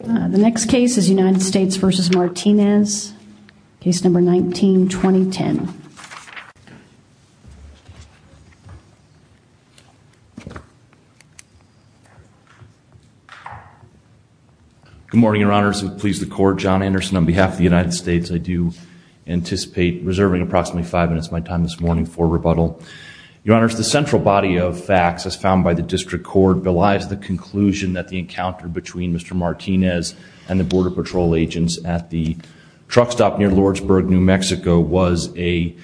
The next case is United States v. Martinez, case number 19-2010. Good morning, Your Honors, and please the Court. John Anderson on behalf of the United States. I do anticipate reserving approximately five minutes of my time this morning for rebuttal. Your Honors, the central body of facts as found by the District Court belies the conclusion that the encounter between Mr. Martinez and the Border Patrol agents at the truck stop near Lordsburg, New Mexico was a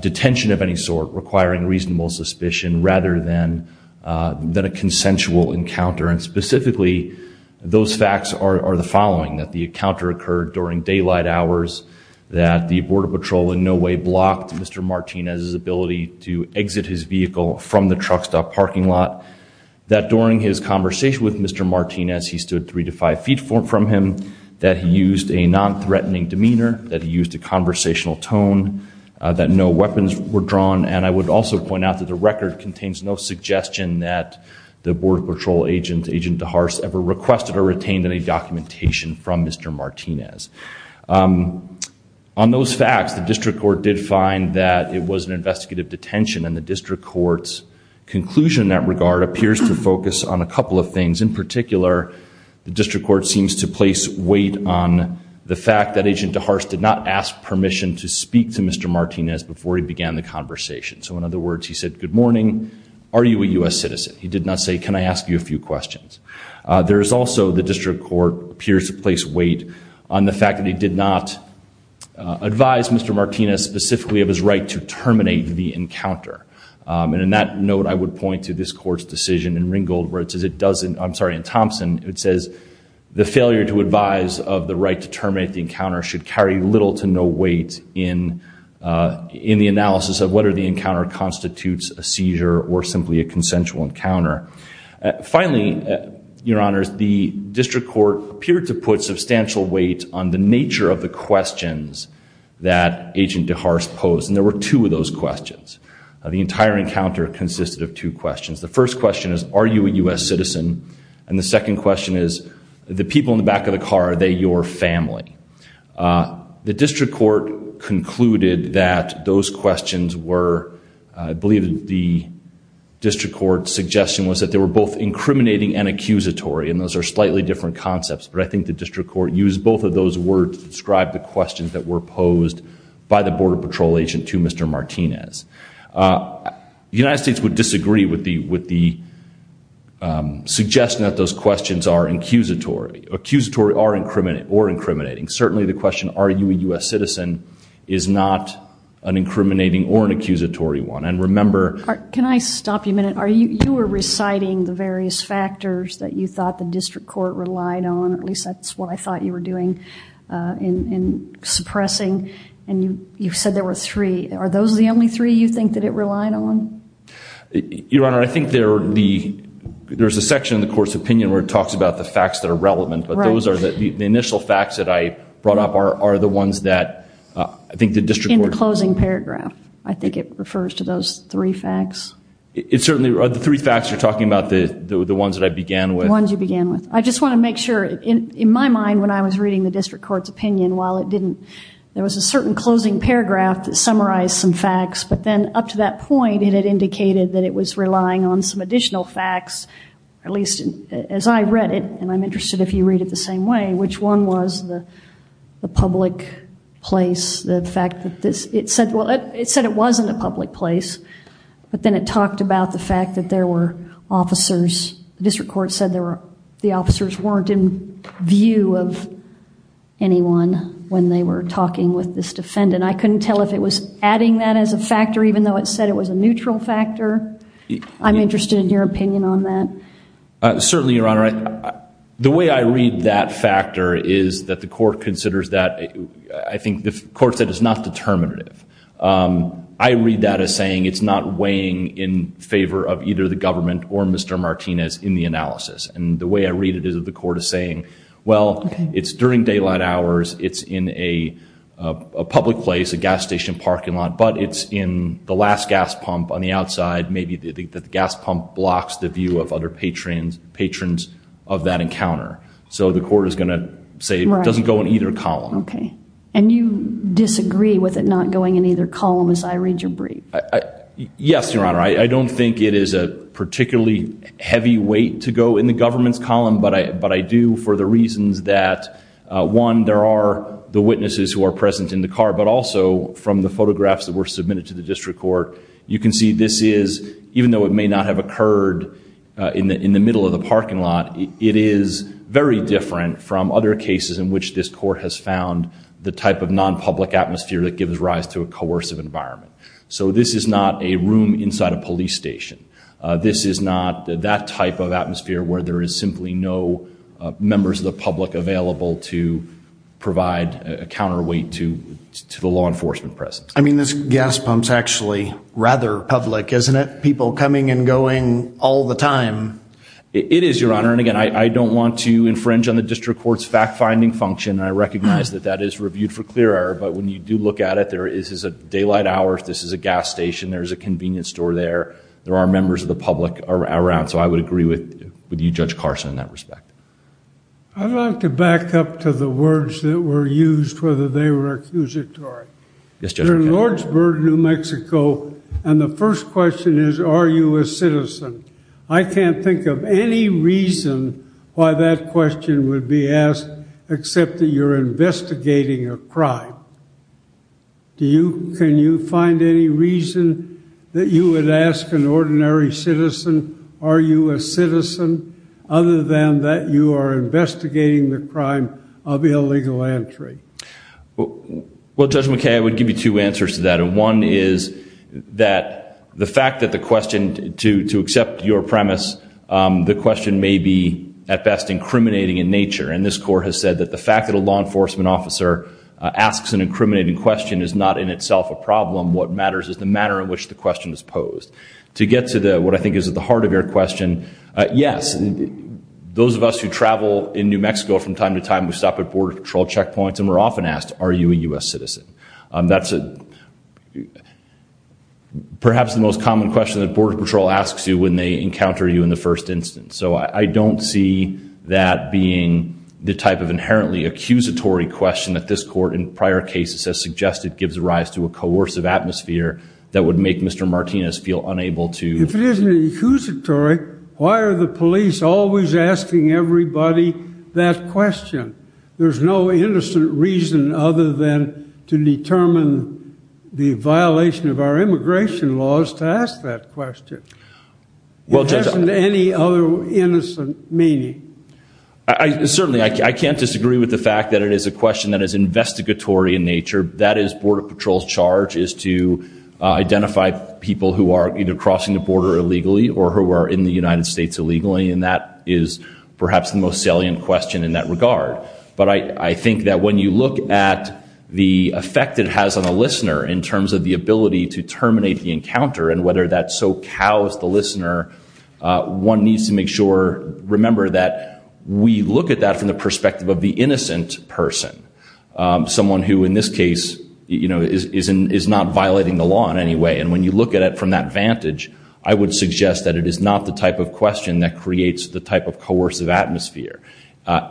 detention of any sort requiring reasonable suspicion rather than a consensual encounter. And specifically, those facts are the following, that the encounter occurred during daylight hours, that the Border Patrol in no way blocked Mr. Martinez's ability to exit his vehicle from the truck stop parking lot, that during his conversation with Mr. Martinez, he stood three to five feet from him, that he used a non-threatening demeanor, that he used a conversational tone, that no weapons were drawn, and I would also point out that the record contains no suggestion that the Border Patrol agent, Agent DeHaarce, ever requested or retained any documentation from Mr. Martinez. On those facts, the District Court did find that it was an investigative detention, and the District Court's conclusion in that regard appears to focus on a couple of things. In particular, the District Court seems to place weight on the fact that Agent DeHaarce did not ask permission to speak to Mr. Martinez before he began the conversation. So in other words, he said, good morning, are you a U.S. citizen? He did not say, can I ask you a few questions? There is also, the District Court appears to place weight on the fact that he did not advise Mr. Martinez specifically of his right to terminate the encounter. And in that note, I would point to this Court's decision in Ringgold, where it says it doesn't, I'm sorry, in Thompson, it says the failure to advise of the right to terminate the encounter should carry little to no weight in the analysis of whether the encounter constitutes a seizure or simply a consensual encounter. Finally, Your Honors, the District Court appeared to put substantial weight on the nature of the questions that Agent DeHaarce posed. And there were two of those questions. The entire encounter consisted of two questions. The first question is, are you a U.S. citizen? And the second question is, the people in the back of the car, are they your family? The District Court concluded that those questions were, I believe the District Court's suggestion was that they were both incriminating and accusatory. And those are slightly different concepts. But I think the District Court used both of those words to describe the questions that were posed by the Border Patrol agent to Mr. Martinez. The United States would disagree with the suggestion that those questions are accusatory or incriminating. Certainly the question, are you a U.S. citizen, is not an incriminating or an accusatory one. And remember... Can I stop you a minute? You were reciting the various factors that you thought the District Court relied on. At least that's what I thought you were doing in suppressing. And you said there were three. Are those the only three you think that it relied on? Your Honor, I think there's a section in the Court's opinion where it talks about the facts that are relevant. But those are the initial facts that I brought up are the ones that I think the District Court... In the closing paragraph. I think it refers to those three facts. It certainly... The three facts you're talking about, the ones that I began with? The ones you began with. I just want to make sure, in my mind when I was reading the District Court's opinion, while it didn't... There was a certain closing paragraph that summarized some facts. But then up to that point, it had indicated that it was relying on some additional facts. At least as I read it, and I'm interested if you read it the same way, which one was the public place, the fact that this... It said it wasn't a public place. But then it talked about the fact that there were officers. The District Court said the officers weren't in view of anyone when they were talking with this defendant. I couldn't tell if it was adding that as a factor, even though it said it was a neutral factor. I'm interested in your opinion on that. Certainly, Your Honor. The way I read that factor is that the court considers that... I think the court said it's not determinative. I read that as saying it's not weighing in favor of either the government or Mr. Martinez in the analysis. And the way I read it is that the court is saying, well, it's during daylight hours, it's in a public place, a gas station parking lot, but it's in the last gas pump on the outside. Maybe the gas pump blocks the view of other patrons of that encounter. So the court is going to say it doesn't go in either column. And you disagree with it not going in either column as I read your brief? Yes, Your Honor. I don't think it is a particularly heavy weight to go in the government's column, but I do for the reasons that, one, there are the witnesses who are present in the car, but also from the photographs that were submitted to the District Court, you can see this is... In the middle of the parking lot, it is very different from other cases in which this court has found the type of non-public atmosphere that gives rise to a coercive environment. So this is not a room inside a police station. This is not that type of atmosphere where there is simply no members of the public available to provide a counterweight to the law enforcement presence. I mean, this gas pump's actually rather public, isn't it? People coming and going all the time. It is, Your Honor. And again, I don't want to infringe on the District Court's fact-finding function, and I recognize that that is reviewed for clear error, but when you do look at it, there is a daylight hour, this is a gas station, there's a convenience store there, there are members of the public around. So I would agree with you, Judge Carson, in that respect. I'd like to back up to the words that were used, whether they were accusatory. Yes, Judge. You're in Lordsburg, New Mexico, and the first question is, are you a citizen? I can't think of any reason why that question would be asked, except that you're investigating a crime. Can you find any reason that you would ask an ordinary citizen, are you a citizen, other than that you are investigating the crime of illegal entry? Well, Judge McKay, I would give you two answers to that. One is that the fact that the question, to accept your premise, the question may be, at best, incriminating in nature. And this court has said that the fact that a law enforcement officer asks an incriminating question is not in itself a problem. What matters is the manner in which the question is posed. To get to what I think is at the heart of your question, yes, those of us who travel in New Mexico from time to time, we stop at Border Patrol checkpoints and we're often asked, are you a U.S. citizen? That's perhaps the most common question that Border Patrol asks you when they encounter you in the first instance. So I don't see that being the type of inherently accusatory question that this court in prior cases has suggested gives rise to a coercive atmosphere that would make Mr. Martinez feel unable to... If it isn't accusatory, why are the police always asking everybody that question? There's no innocent reason other than to determine the violation of our immigration laws to ask that question. There isn't any other innocent meaning. Certainly, I can't disagree with the fact that it is a question that is investigatory in nature. That is, Border Patrol's charge is to identify people who are either crossing the border illegally or who are in the United States illegally, and that is perhaps the most salient question in that regard. But I think that when you look at the effect it has on a listener in terms of the ability to terminate the encounter and whether that so cows the listener, one needs to make sure... Remember that we look at that from the perspective of the innocent person, someone who in this case is not violating the law in any way. And when you look at it from that vantage, I would suggest that it is not the type of question that creates the type of coercive atmosphere.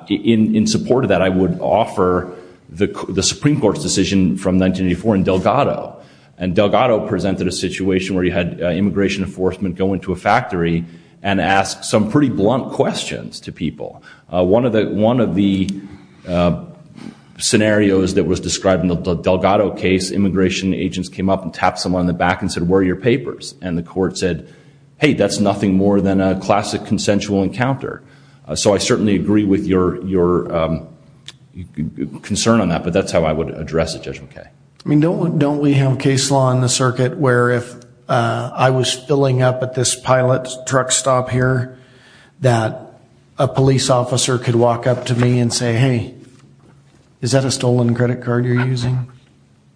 In support of that, I would offer the Supreme Court's decision from 1984 in Delgado. And Delgado presented a situation where he had immigration enforcement go into a factory and ask some pretty blunt questions to people. One of the scenarios that was described in the Delgado case, immigration agents came up and tapped someone in the back and said, where are your papers? And the court said, hey, that's nothing more than a classic consensual encounter. So I certainly agree with your concern on that, but that's how I would address it, Judge McKay. I mean, don't we have case law in the circuit where if I was filling up at this pilot truck stop here, that a police officer could walk up to me and say, hey, is that a stolen credit card you're using?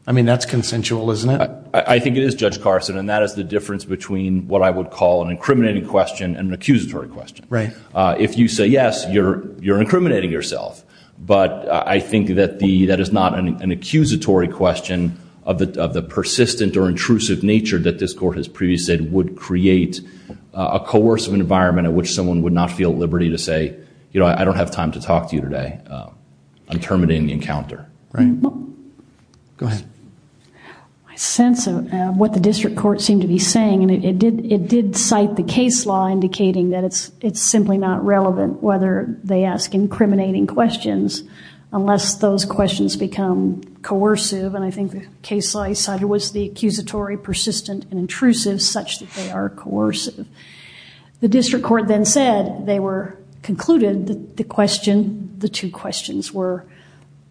I mean, that's consensual, isn't it? I think it is, Judge Carson, and that is the difference between what I would call an incriminating question and an accusatory question. If you say yes, you're incriminating yourself. But I think that that is not an accusatory question of the persistent or intrusive nature that this court has previously said would create a coercive environment in which someone would not feel at liberty to say, you know, I don't have time to talk to you today. I'm terminating the encounter. Go ahead. My sense of what the district court seemed to be saying, and it did cite the case law indicating that it's simply not relevant whether they ask incriminating questions unless those questions become coercive. And I think the case law cited was the accusatory, persistent, and intrusive such that they are coercive. The district court then said they were concluded that the question, the two questions were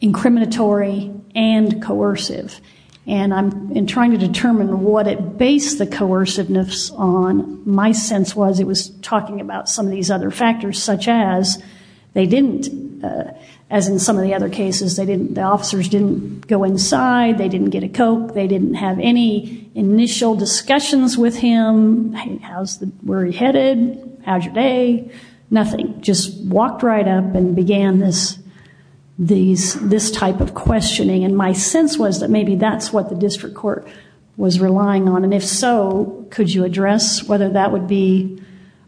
incriminatory and coercive. And in trying to determine what it based the coerciveness on, my sense was it was talking about some of these other factors such as they didn't, as in some of the other cases, the officers didn't go inside, they didn't get a Coke, they didn't have any initial discussions with him, where he headed, how's your day, nothing. Just walked right up and began this type of questioning. And my sense was that maybe that's what the district court was relying on. And if so, could you address whether that would be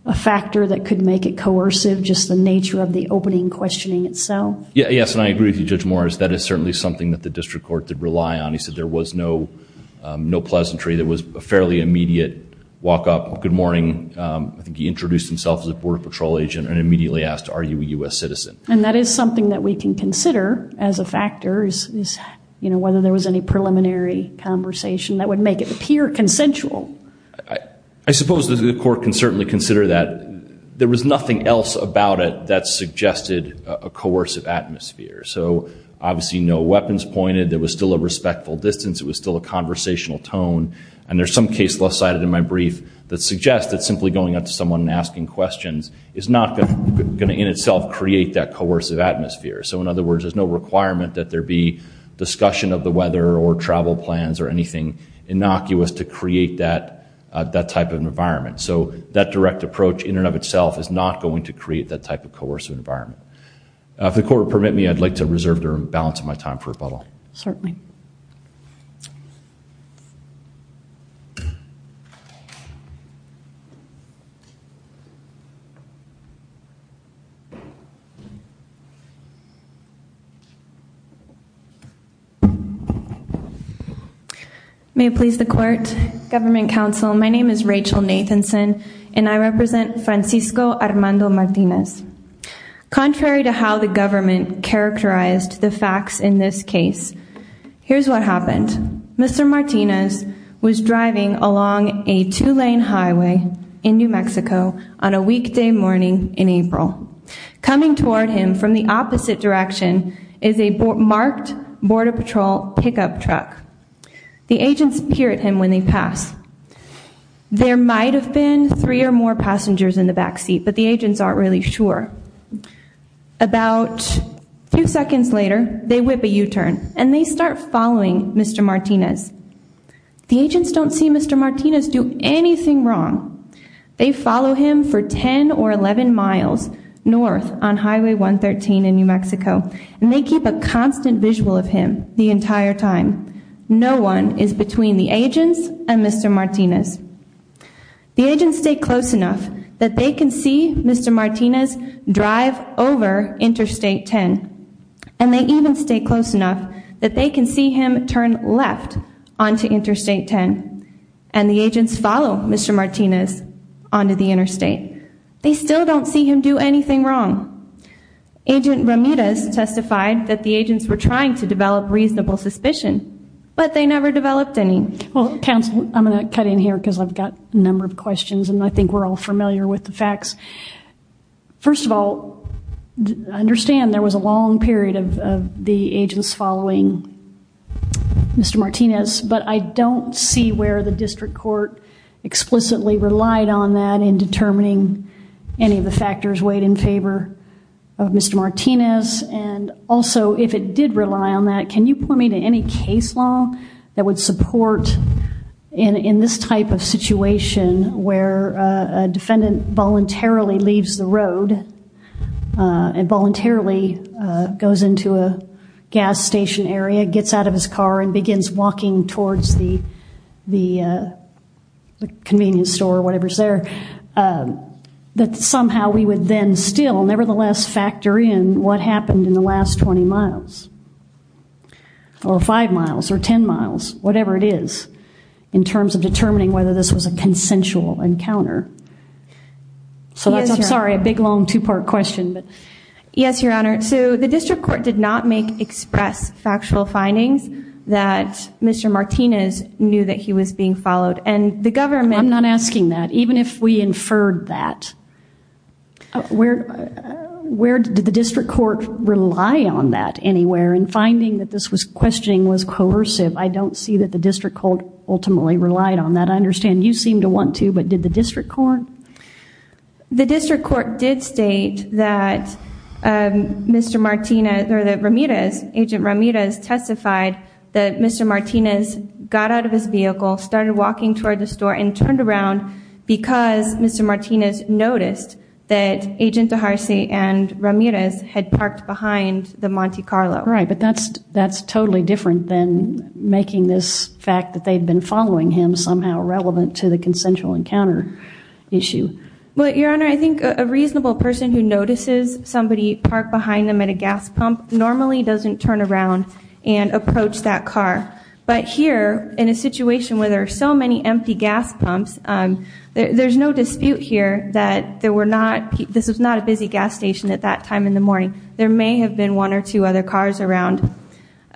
a factor that could make it coercive, just the nature of the opening questioning itself? Yes, and I agree with you, Judge Morris. That is certainly something that the district court did rely on. He said there was no pleasantry. There was a fairly immediate walk up, good morning. I think he introduced himself as a border patrol agent and immediately asked, are you a U.S. citizen? And that is something that we can consider as a factor, whether there was any preliminary conversation that would make it appear consensual. I suppose the court can certainly consider that. There was nothing else about it that suggested a coercive atmosphere. So obviously no weapons pointed, there was still a respectful distance, it was still a conversational tone. And there's some case left sided in my brief that suggests that simply going up to someone and asking questions is not going to in itself create that coercive atmosphere. So in other words, there's no requirement that there be discussion of the weather or travel plans or anything innocuous to create that type of environment. So that direct approach in and of itself is not going to create that type of coercive environment. If the court would permit me, I'd like to reserve the balance of my time for rebuttal. May it please the court, government counsel. My name is Rachel Nathanson and I represent Francisco Armando Martinez. Contrary to how the government characterized the facts in this case, here's what happened. Mr. Martinez was driving along a two lane highway in New Mexico. Coming toward him from the opposite direction is a marked border patrol pickup truck. The agents peer at him when they pass. There might have been three or more passengers in the back seat, but the agents aren't really sure. About two seconds later, they whip a U-turn and they start following Mr. Martinez. The agents don't see Mr. Martinez do anything wrong. They follow him for 10 or 11 miles north on Highway 113 in New Mexico and they keep a constant visual of him the entire time. No one is between the agents and Mr. Martinez. The agents stay close enough that they can see Mr. Martinez drive over Interstate 10 and they even stay close enough that they can see him turn left onto Interstate 10. And the agents follow Mr. Martinez onto the interstate. They still don't see him do anything wrong. Agent Ramirez testified that the agents were trying to develop reasonable suspicion, but they never developed any. Well, counsel, I'm going to cut in here because I've got a number of questions and I think we're all familiar with the facts. First of all, I understand there was a long period of the agents following Mr. Martinez, but I don't see where the district court explicitly relied on that in determining any of the factors weighed in favor of Mr. Martinez. And also, if it did rely on that, can you point me to any case law that would support in this type of situation where a defendant voluntarily leaves the road and voluntarily goes into a gas station area, gets out of his car and begins walking towards the convenience store or whatever's there, that somehow we would then still nevertheless factor in what happened in the last 20 miles or 5 miles or 10 miles, whatever it is, in terms of determining whether this was a consensual encounter? So that's, I'm sorry, a big long two-part question. Yes, Your Honor. So the district court did not make express factual findings that Mr. Martinez knew that he was being followed. And the government- I'm not asking that. Even if we inferred that, where did the district court rely on that anywhere in finding that this questioning was coercive? I don't see that the district court ultimately relied on that. I understand you seem to want to, but did the district court? The district court did state that Mr. Martinez, or that Ramirez, Agent Ramirez testified that Mr. Martinez got out of his vehicle, started walking toward the store and turned around because Mr. Martinez noticed that Agent Deharcy and Ramirez had parked behind the Monte Carlo. Right, but that's totally different than making this fact that they'd been following him somehow relevant to the consensual encounter issue. Well, Your Honor, I think a reasonable person who notices somebody park behind them at a gas pump normally doesn't turn around and approach that car. But here, in a situation where there are so many empty gas pumps, there's no dispute here that there were not- this was not a busy gas station at that time in the morning. There may have been one or two other cars around.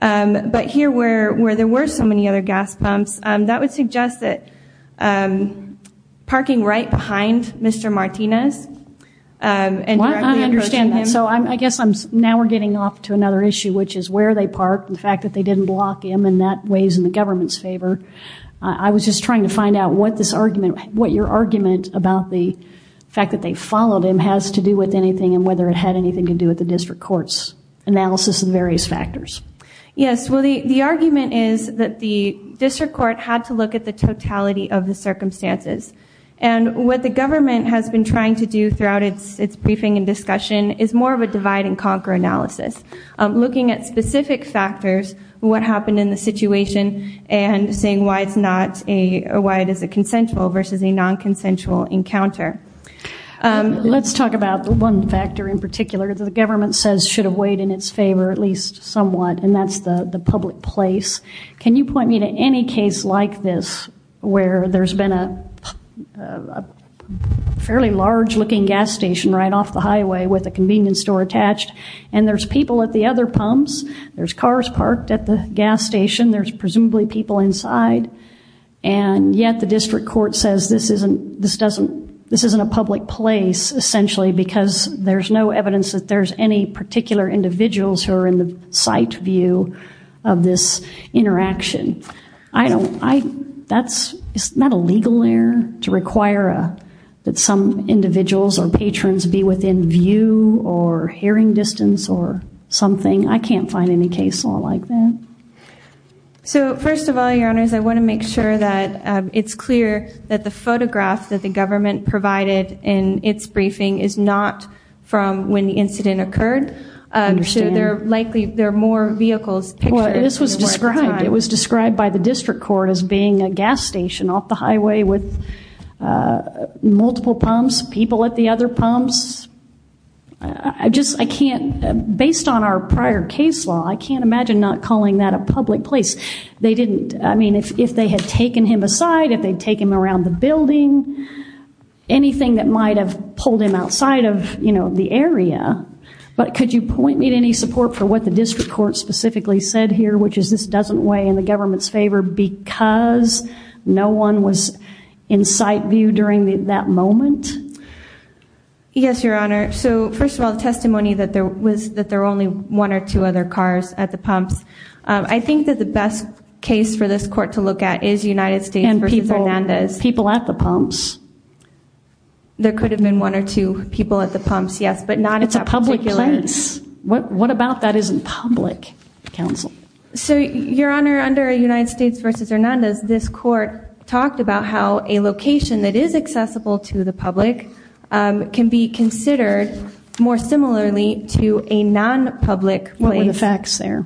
But here where there were so many other gas pumps, that would suggest that parking right behind Mr. Martinez and directly approaching him- Well, I understand that. So I guess now we're getting off to another issue, which is where they parked, the fact that they didn't block him, and that weighs in the government's favor. I was just trying to find out what this argument- what your argument about the fact that they followed him has to do with anything and whether it had anything to do with the district court's analysis of the various factors. Yes. Well, the argument is that the district court had to look at the totality of the circumstances. And what the government has been trying to do throughout its briefing and discussion is more of a divide and conquer analysis, looking at specific factors, what happened in the situation, and saying why it's not a- why it is a consensual versus a non-consensual encounter. Let's talk about one factor in particular that the government says should have weighed in its favor, at least somewhat, and that's the public place. Can you point me to any case like this where there's been a fairly large-looking gas station right off the highway with a convenience store attached, and there's people at the other pumps, there's cars parked at the gas station, there's presumably people inside, and yet the district court says this isn't- this doesn't- this isn't a public place, essentially, because there's no evidence that there's any particular individuals who are in the sight view of this interaction. I don't- I- that's- it's not a legal error to require that some individuals or patrons be within view or hearing distance or something. I can't find any case law like that. So first of all, Your Honors, I want to make sure that it's clear that the photograph that the government provided in its briefing is not from when the incident occurred. I understand. So there are likely- there are more vehicles pictured- Well, this was described- it was described by the district court as being a gas station off the highway with multiple pumps, people at the other pumps. I just- I can't- based on our prior case law, I can't imagine not calling that a public place. They didn't- I mean, if they had taken him aside, if they'd taken him around the building, anything that might have pulled him outside of, you know, the area. But could you point me to any support for what the district court specifically said here, which is this doesn't weigh in the government's favor because no one was in sight view during that moment? Yes, Your Honor. So first of all, the testimony that there was- that there were only one or two other cars at the pumps. I think that the best case for this court to look at is United States v. Hernandez. People at the pumps. There could have been one or two people at the pumps, yes, but not at that particular- It's a public place. What about that isn't public, counsel? So, Your Honor, under United States v. Hernandez, this court talked about how a location that is accessible to the public can be considered more similarly to a non-public place. What were the facts there?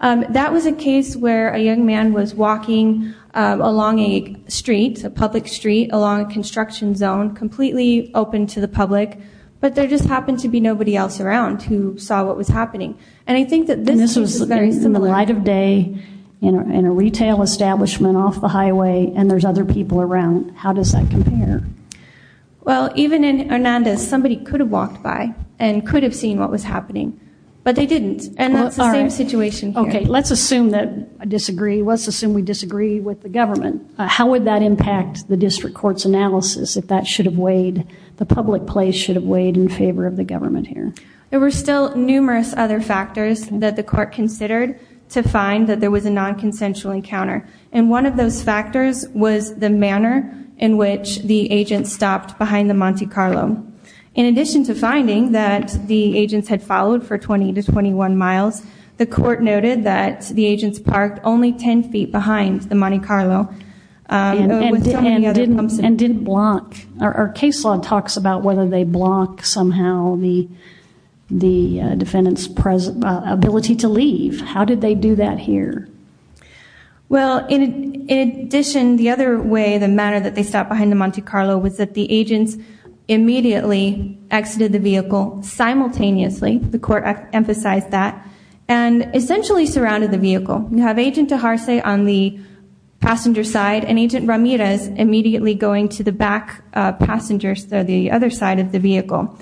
That was a case where a young man was walking along a street, a public street, along a construction zone, completely open to the public, but there just happened to be nobody else around who saw what was happening. And I think that this case is very similar. And this was in the light of day in a retail establishment off the highway and there's other people around. How does that compare? Well, even in Hernandez, somebody could have walked by and could have seen what was happening, but they didn't. And that's the same situation here. Okay. Let's assume that- disagree. Let's assume we disagree with the government. How would that impact the district court's analysis if that should have weighed- the public place should have weighed in favor of the government here? There were still numerous other factors that the court considered to find that there was a non-consensual encounter. And one of those factors was the manner in which the agent stopped behind the Monte Carlo. In addition to finding that the agents had followed for 20 to 21 miles, the court noted that the agents parked only 10 feet behind the Monte Carlo. And didn't block- our case law talks about whether they block somehow the defendant's ability to leave. How did they do that here? Well, in addition, the other way, the manner that they stopped behind the Monte Carlo was that the agents immediately exited the vehicle simultaneously. The court emphasized that. And essentially surrounded the vehicle. You have Agent Deharce on the passenger side and Agent Ramirez immediately going to the back passengers, the other side of the vehicle.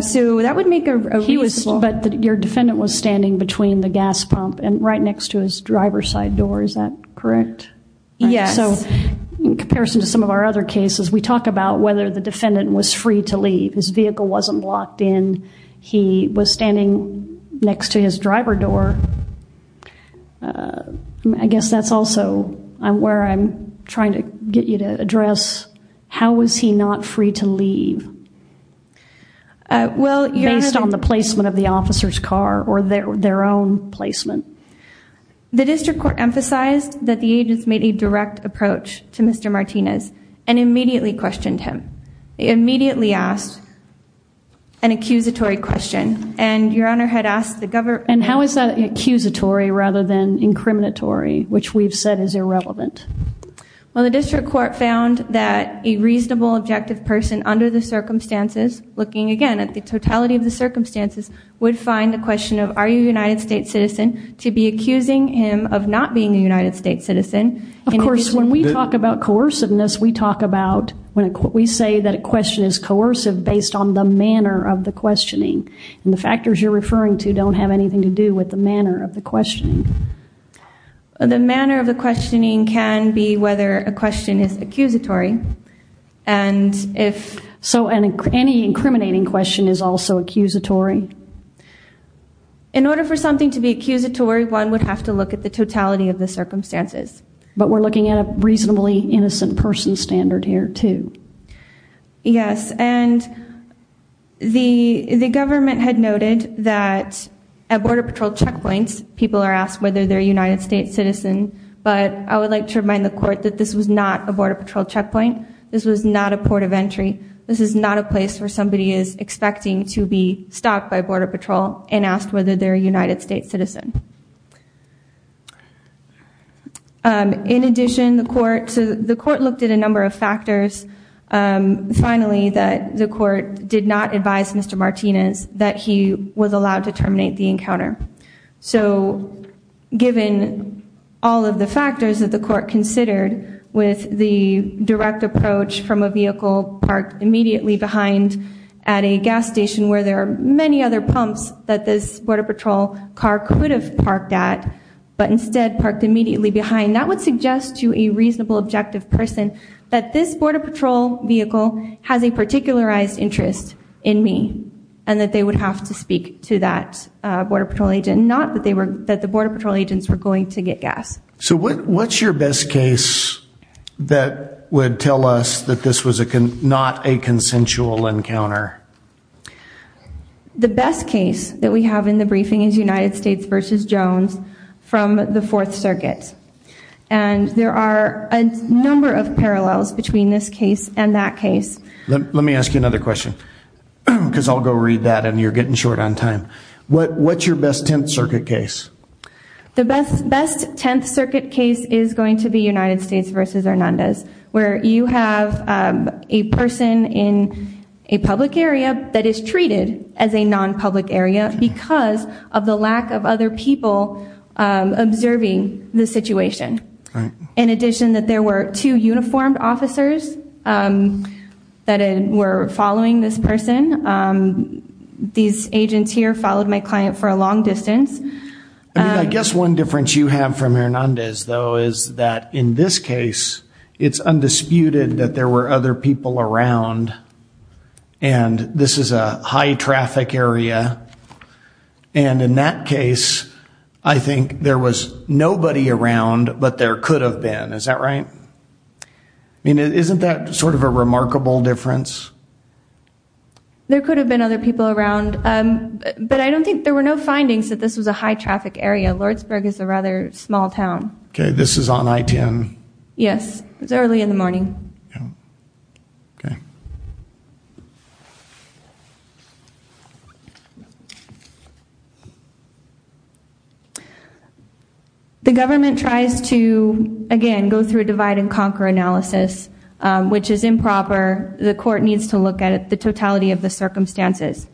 So that would make a- But he was- but your defendant was standing between the gas pump and right next to his driver's side door, is that correct? Yes. So in comparison to some of our other cases, we talk about whether the defendant was free to leave. His vehicle wasn't blocked in. He was standing next to his driver door. I guess that's also where I'm trying to get you to address, how was he not free to leave based on the placement of the officer's car or their own placement? The district court emphasized that the agents made a direct approach to Mr. Martinez and immediately questioned him. They immediately asked an accusatory question. And your Honor had asked the- And how is that accusatory rather than incriminatory, which we've said is irrelevant? Well, the district court found that a reasonable, objective person under the circumstances, looking again at the totality of the circumstances, would find the question of, are you a United States citizen, to be accusing him of not being a United States citizen. Of course, when we talk about coerciveness, we talk about- we say that a question is coercive based on the manner of the questioning. And the factors you're referring to don't have anything to do with the manner of the questioning. The manner of the questioning can be whether a question is accusatory. And if- Any incriminating question is also accusatory. In order for something to be accusatory, one would have to look at the totality of the circumstances. But we're looking at a reasonably innocent person standard here, too. Yes. And the government had noted that at Border Patrol checkpoints, people are asked whether they're a United States citizen. But I would like to remind the court that this was not a Border Patrol checkpoint. This was not a port of entry. This is not a place where somebody is expecting to be stopped by Border Patrol and asked whether they're a United States citizen. In addition, the court looked at a number of factors. Finally, the court did not advise Mr. Martinez that he was allowed to terminate the encounter. So given all of the factors that the court considered with the direct approach from a at a gas station where there are many other pumps that this Border Patrol car could have parked at, but instead parked immediately behind, that would suggest to a reasonable objective person that this Border Patrol vehicle has a particularized interest in me and that they would have to speak to that Border Patrol agent, not that they were- that the Border Patrol agents were going to get gas. So what's your best case that would tell us that this was not a consensual encounter? The best case that we have in the briefing is United States versus Jones from the Fourth Circuit. And there are a number of parallels between this case and that case. Let me ask you another question, because I'll go read that and you're getting short on time. What's your best Tenth Circuit case? The best Tenth Circuit case is going to be United States versus Hernandez, where you have a person in a public area that is treated as a non-public area because of the lack of other people observing the situation. In addition, that there were two uniformed officers that were following this person. These agents here followed my client for a long distance. I guess one difference you have from Hernandez, though, is that in this case, it's undisputed that there were other people around. And this is a high traffic area. And in that case, I think there was nobody around, but there could have been. Is that right? I mean, isn't that sort of a remarkable difference? There could have been other people around, but I don't think there were no findings that this was a high traffic area. Lordsburg is a rather small town. OK, this is on I-10. Yes, it's early in the morning. The government tries to, again, go through a divide and conquer analysis, which is improper. The court needs to look at the totality of the circumstances.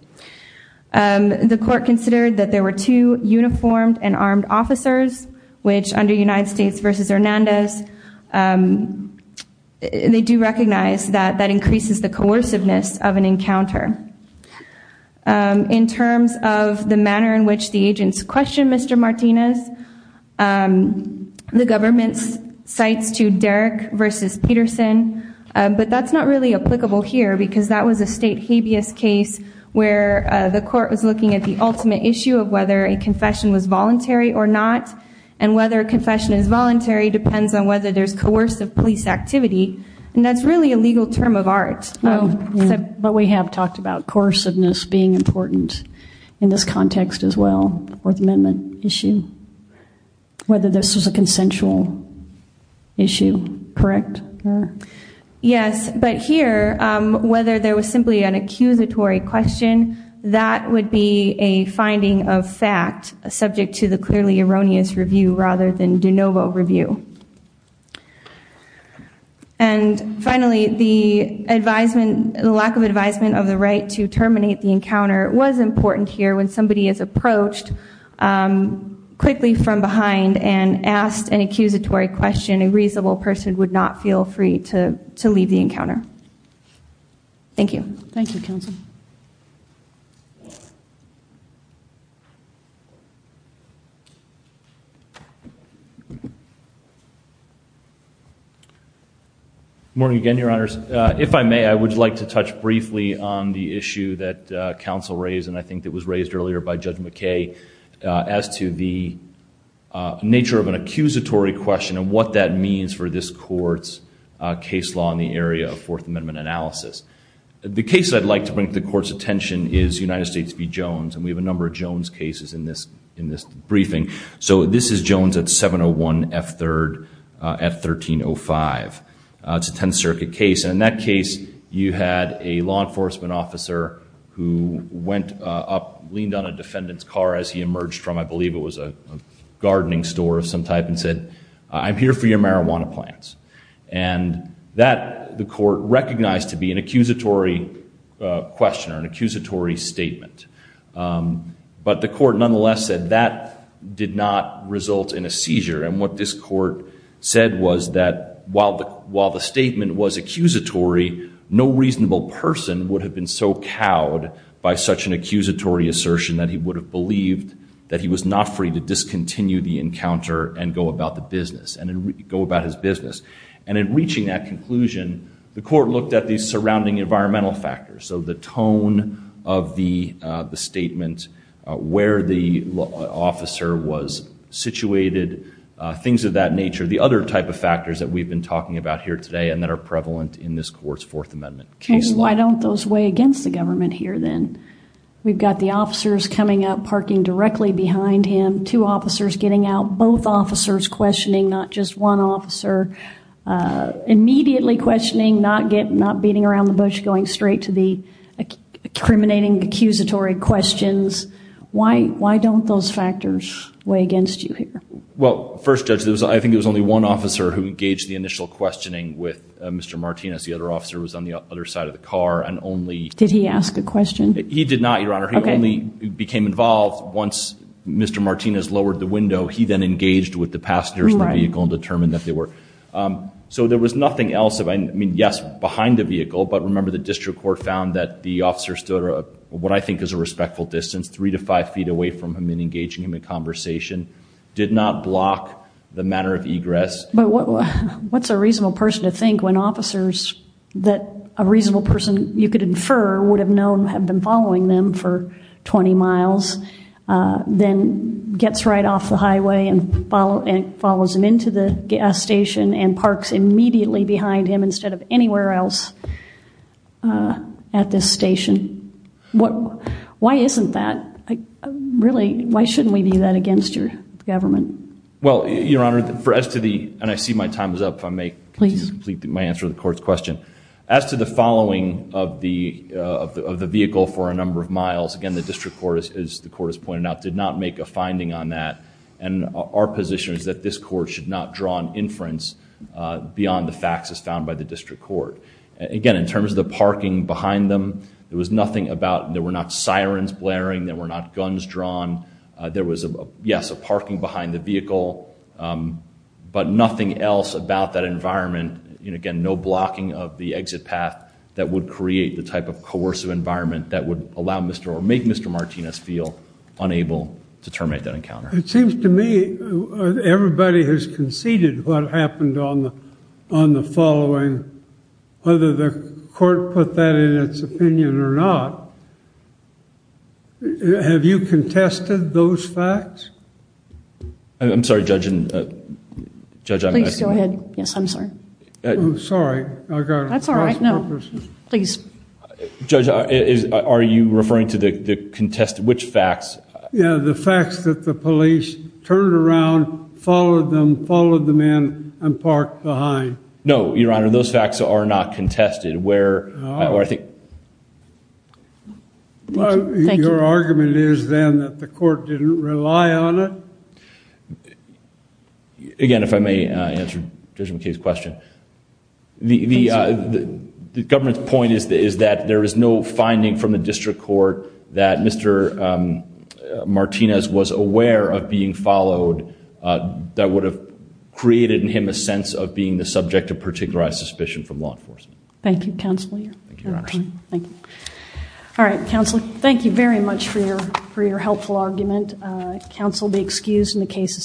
The court considered that there were two uniformed and armed officers, which under United States v. Hernandez, they do recognize that that increases the coerciveness of an encounter. In terms of the manner in which the agents question Mr. Martinez, the government's cites to Derek v. Peterson. But that's not really applicable here because that was a state habeas case where the court was looking at the ultimate issue of whether a confession was voluntary or not, and whether a confession is voluntary depends on whether there's coercive police activity. And that's really a legal term of art. But we have talked about coerciveness being important in this context as well, Fourth Amendment issue, whether this was a consensual issue, correct? Yes. But here, whether there was simply an accusatory question, that would be a finding of fact subject to the clearly erroneous review rather than de novo review. And finally, the lack of advisement of the right to terminate the encounter was important here when somebody is approached quickly from behind and asked an open question. So feel free to leave the encounter. Thank you. Thank you, counsel. Morning again, Your Honors. If I may, I would like to touch briefly on the issue that counsel raised and I think that was raised earlier by Judge McKay as to the nature of an accusatory question and what that means for this Court's case law in the area of Fourth Amendment analysis. The case I'd like to bring to the Court's attention is United States v. Jones. And we have a number of Jones cases in this briefing. So this is Jones at 701 F. 3rd at 1305. It's a Tenth Circuit case. And in that case, you had a law enforcement officer who went up, leaned on a defendant's car as he emerged from, I believe it was a gardening store of some type, and said, I'm here for your marijuana plants. And that the court recognized to be an accusatory question or an accusatory statement. But the court nonetheless said that did not result in a seizure. And what this court said was that while the statement was accusatory, no reasonable person would have been so cowed by such an accusatory assertion that he would have about the business and go about his business. And in reaching that conclusion, the court looked at the surrounding environmental factors. So the tone of the statement, where the officer was situated, things of that nature, the other type of factors that we've been talking about here today and that are prevalent in this Court's Fourth Amendment case law. Why don't those weigh against the government here then? We've got the officers coming up, parking directly behind him, two officers getting out, both officers questioning, not just one officer. Immediately questioning, not getting, not beating around the bush, going straight to the accriminating accusatory questions. Why, why don't those factors weigh against you here? Well, first judge, there was, I think it was only one officer who engaged the initial questioning with Mr. Martinez. The other officer was on the other side of the car and only. Did he ask a question? He did not, Your Honor. He only became involved once Mr. Martinez lowered the window. He then engaged with the passengers in the vehicle and determined that they were. So there was nothing else. I mean, yes, behind the vehicle. But remember, the district court found that the officer stood at what I think is a respectful distance, three to five feet away from him and engaging him in conversation. Did not block the manner of egress. But what's a reasonable person to think when officers that a reasonable person you could infer would have known have been following them for 20 miles? Then gets right off the highway and follow and follows him into the gas station and parks immediately behind him instead of anywhere else. At this station. What, why isn't that really, why shouldn't we do that against your government? Well, Your Honor, for us to the, and I see my time is up. If I may complete my answer to the court's question. As to the following of the, of the vehicle for a number of miles, again, the district court, as the court has pointed out, did not make a finding on that. And our position is that this court should not draw an inference beyond the facts as found by the district court. Again, in terms of the parking behind them, there was nothing about, there were not sirens blaring, there were not guns drawn. There was a, yes, a parking behind the vehicle, but nothing else about that environment. And again, no blocking of the exit path that would create the type of encounter that would make counsel Martinez feel unable to terminate that encounter. It seems to me everybody has conceded what happened on the, on the following, whether the court put that in its opinion or not. Have you contested those facts? I'm sorry, Judge. Judge, I'm asking you. Please go ahead. Yes, I'm sorry. Sorry. I got it. That's all right. No, please. Judge, is, are you referring to the contest, which facts? Yeah, the facts that the police turned around, followed them, followed them in and parked behind. No, Your Honor, those facts are not contested. Where, or I think. Well, your argument is then that the court didn't rely on it. Again, if I may answer Judge McKay's question. The, the government's point is that there is no finding from the district court that Mr. Martinez was aware of being followed that would have created in him a sense of being the subject of particularized suspicion from law enforcement. Thank you, Counselor. Thank you. All right, Counselor, thank you very much for your, for your helpful argument. Counsel will be excused and the case is submitted.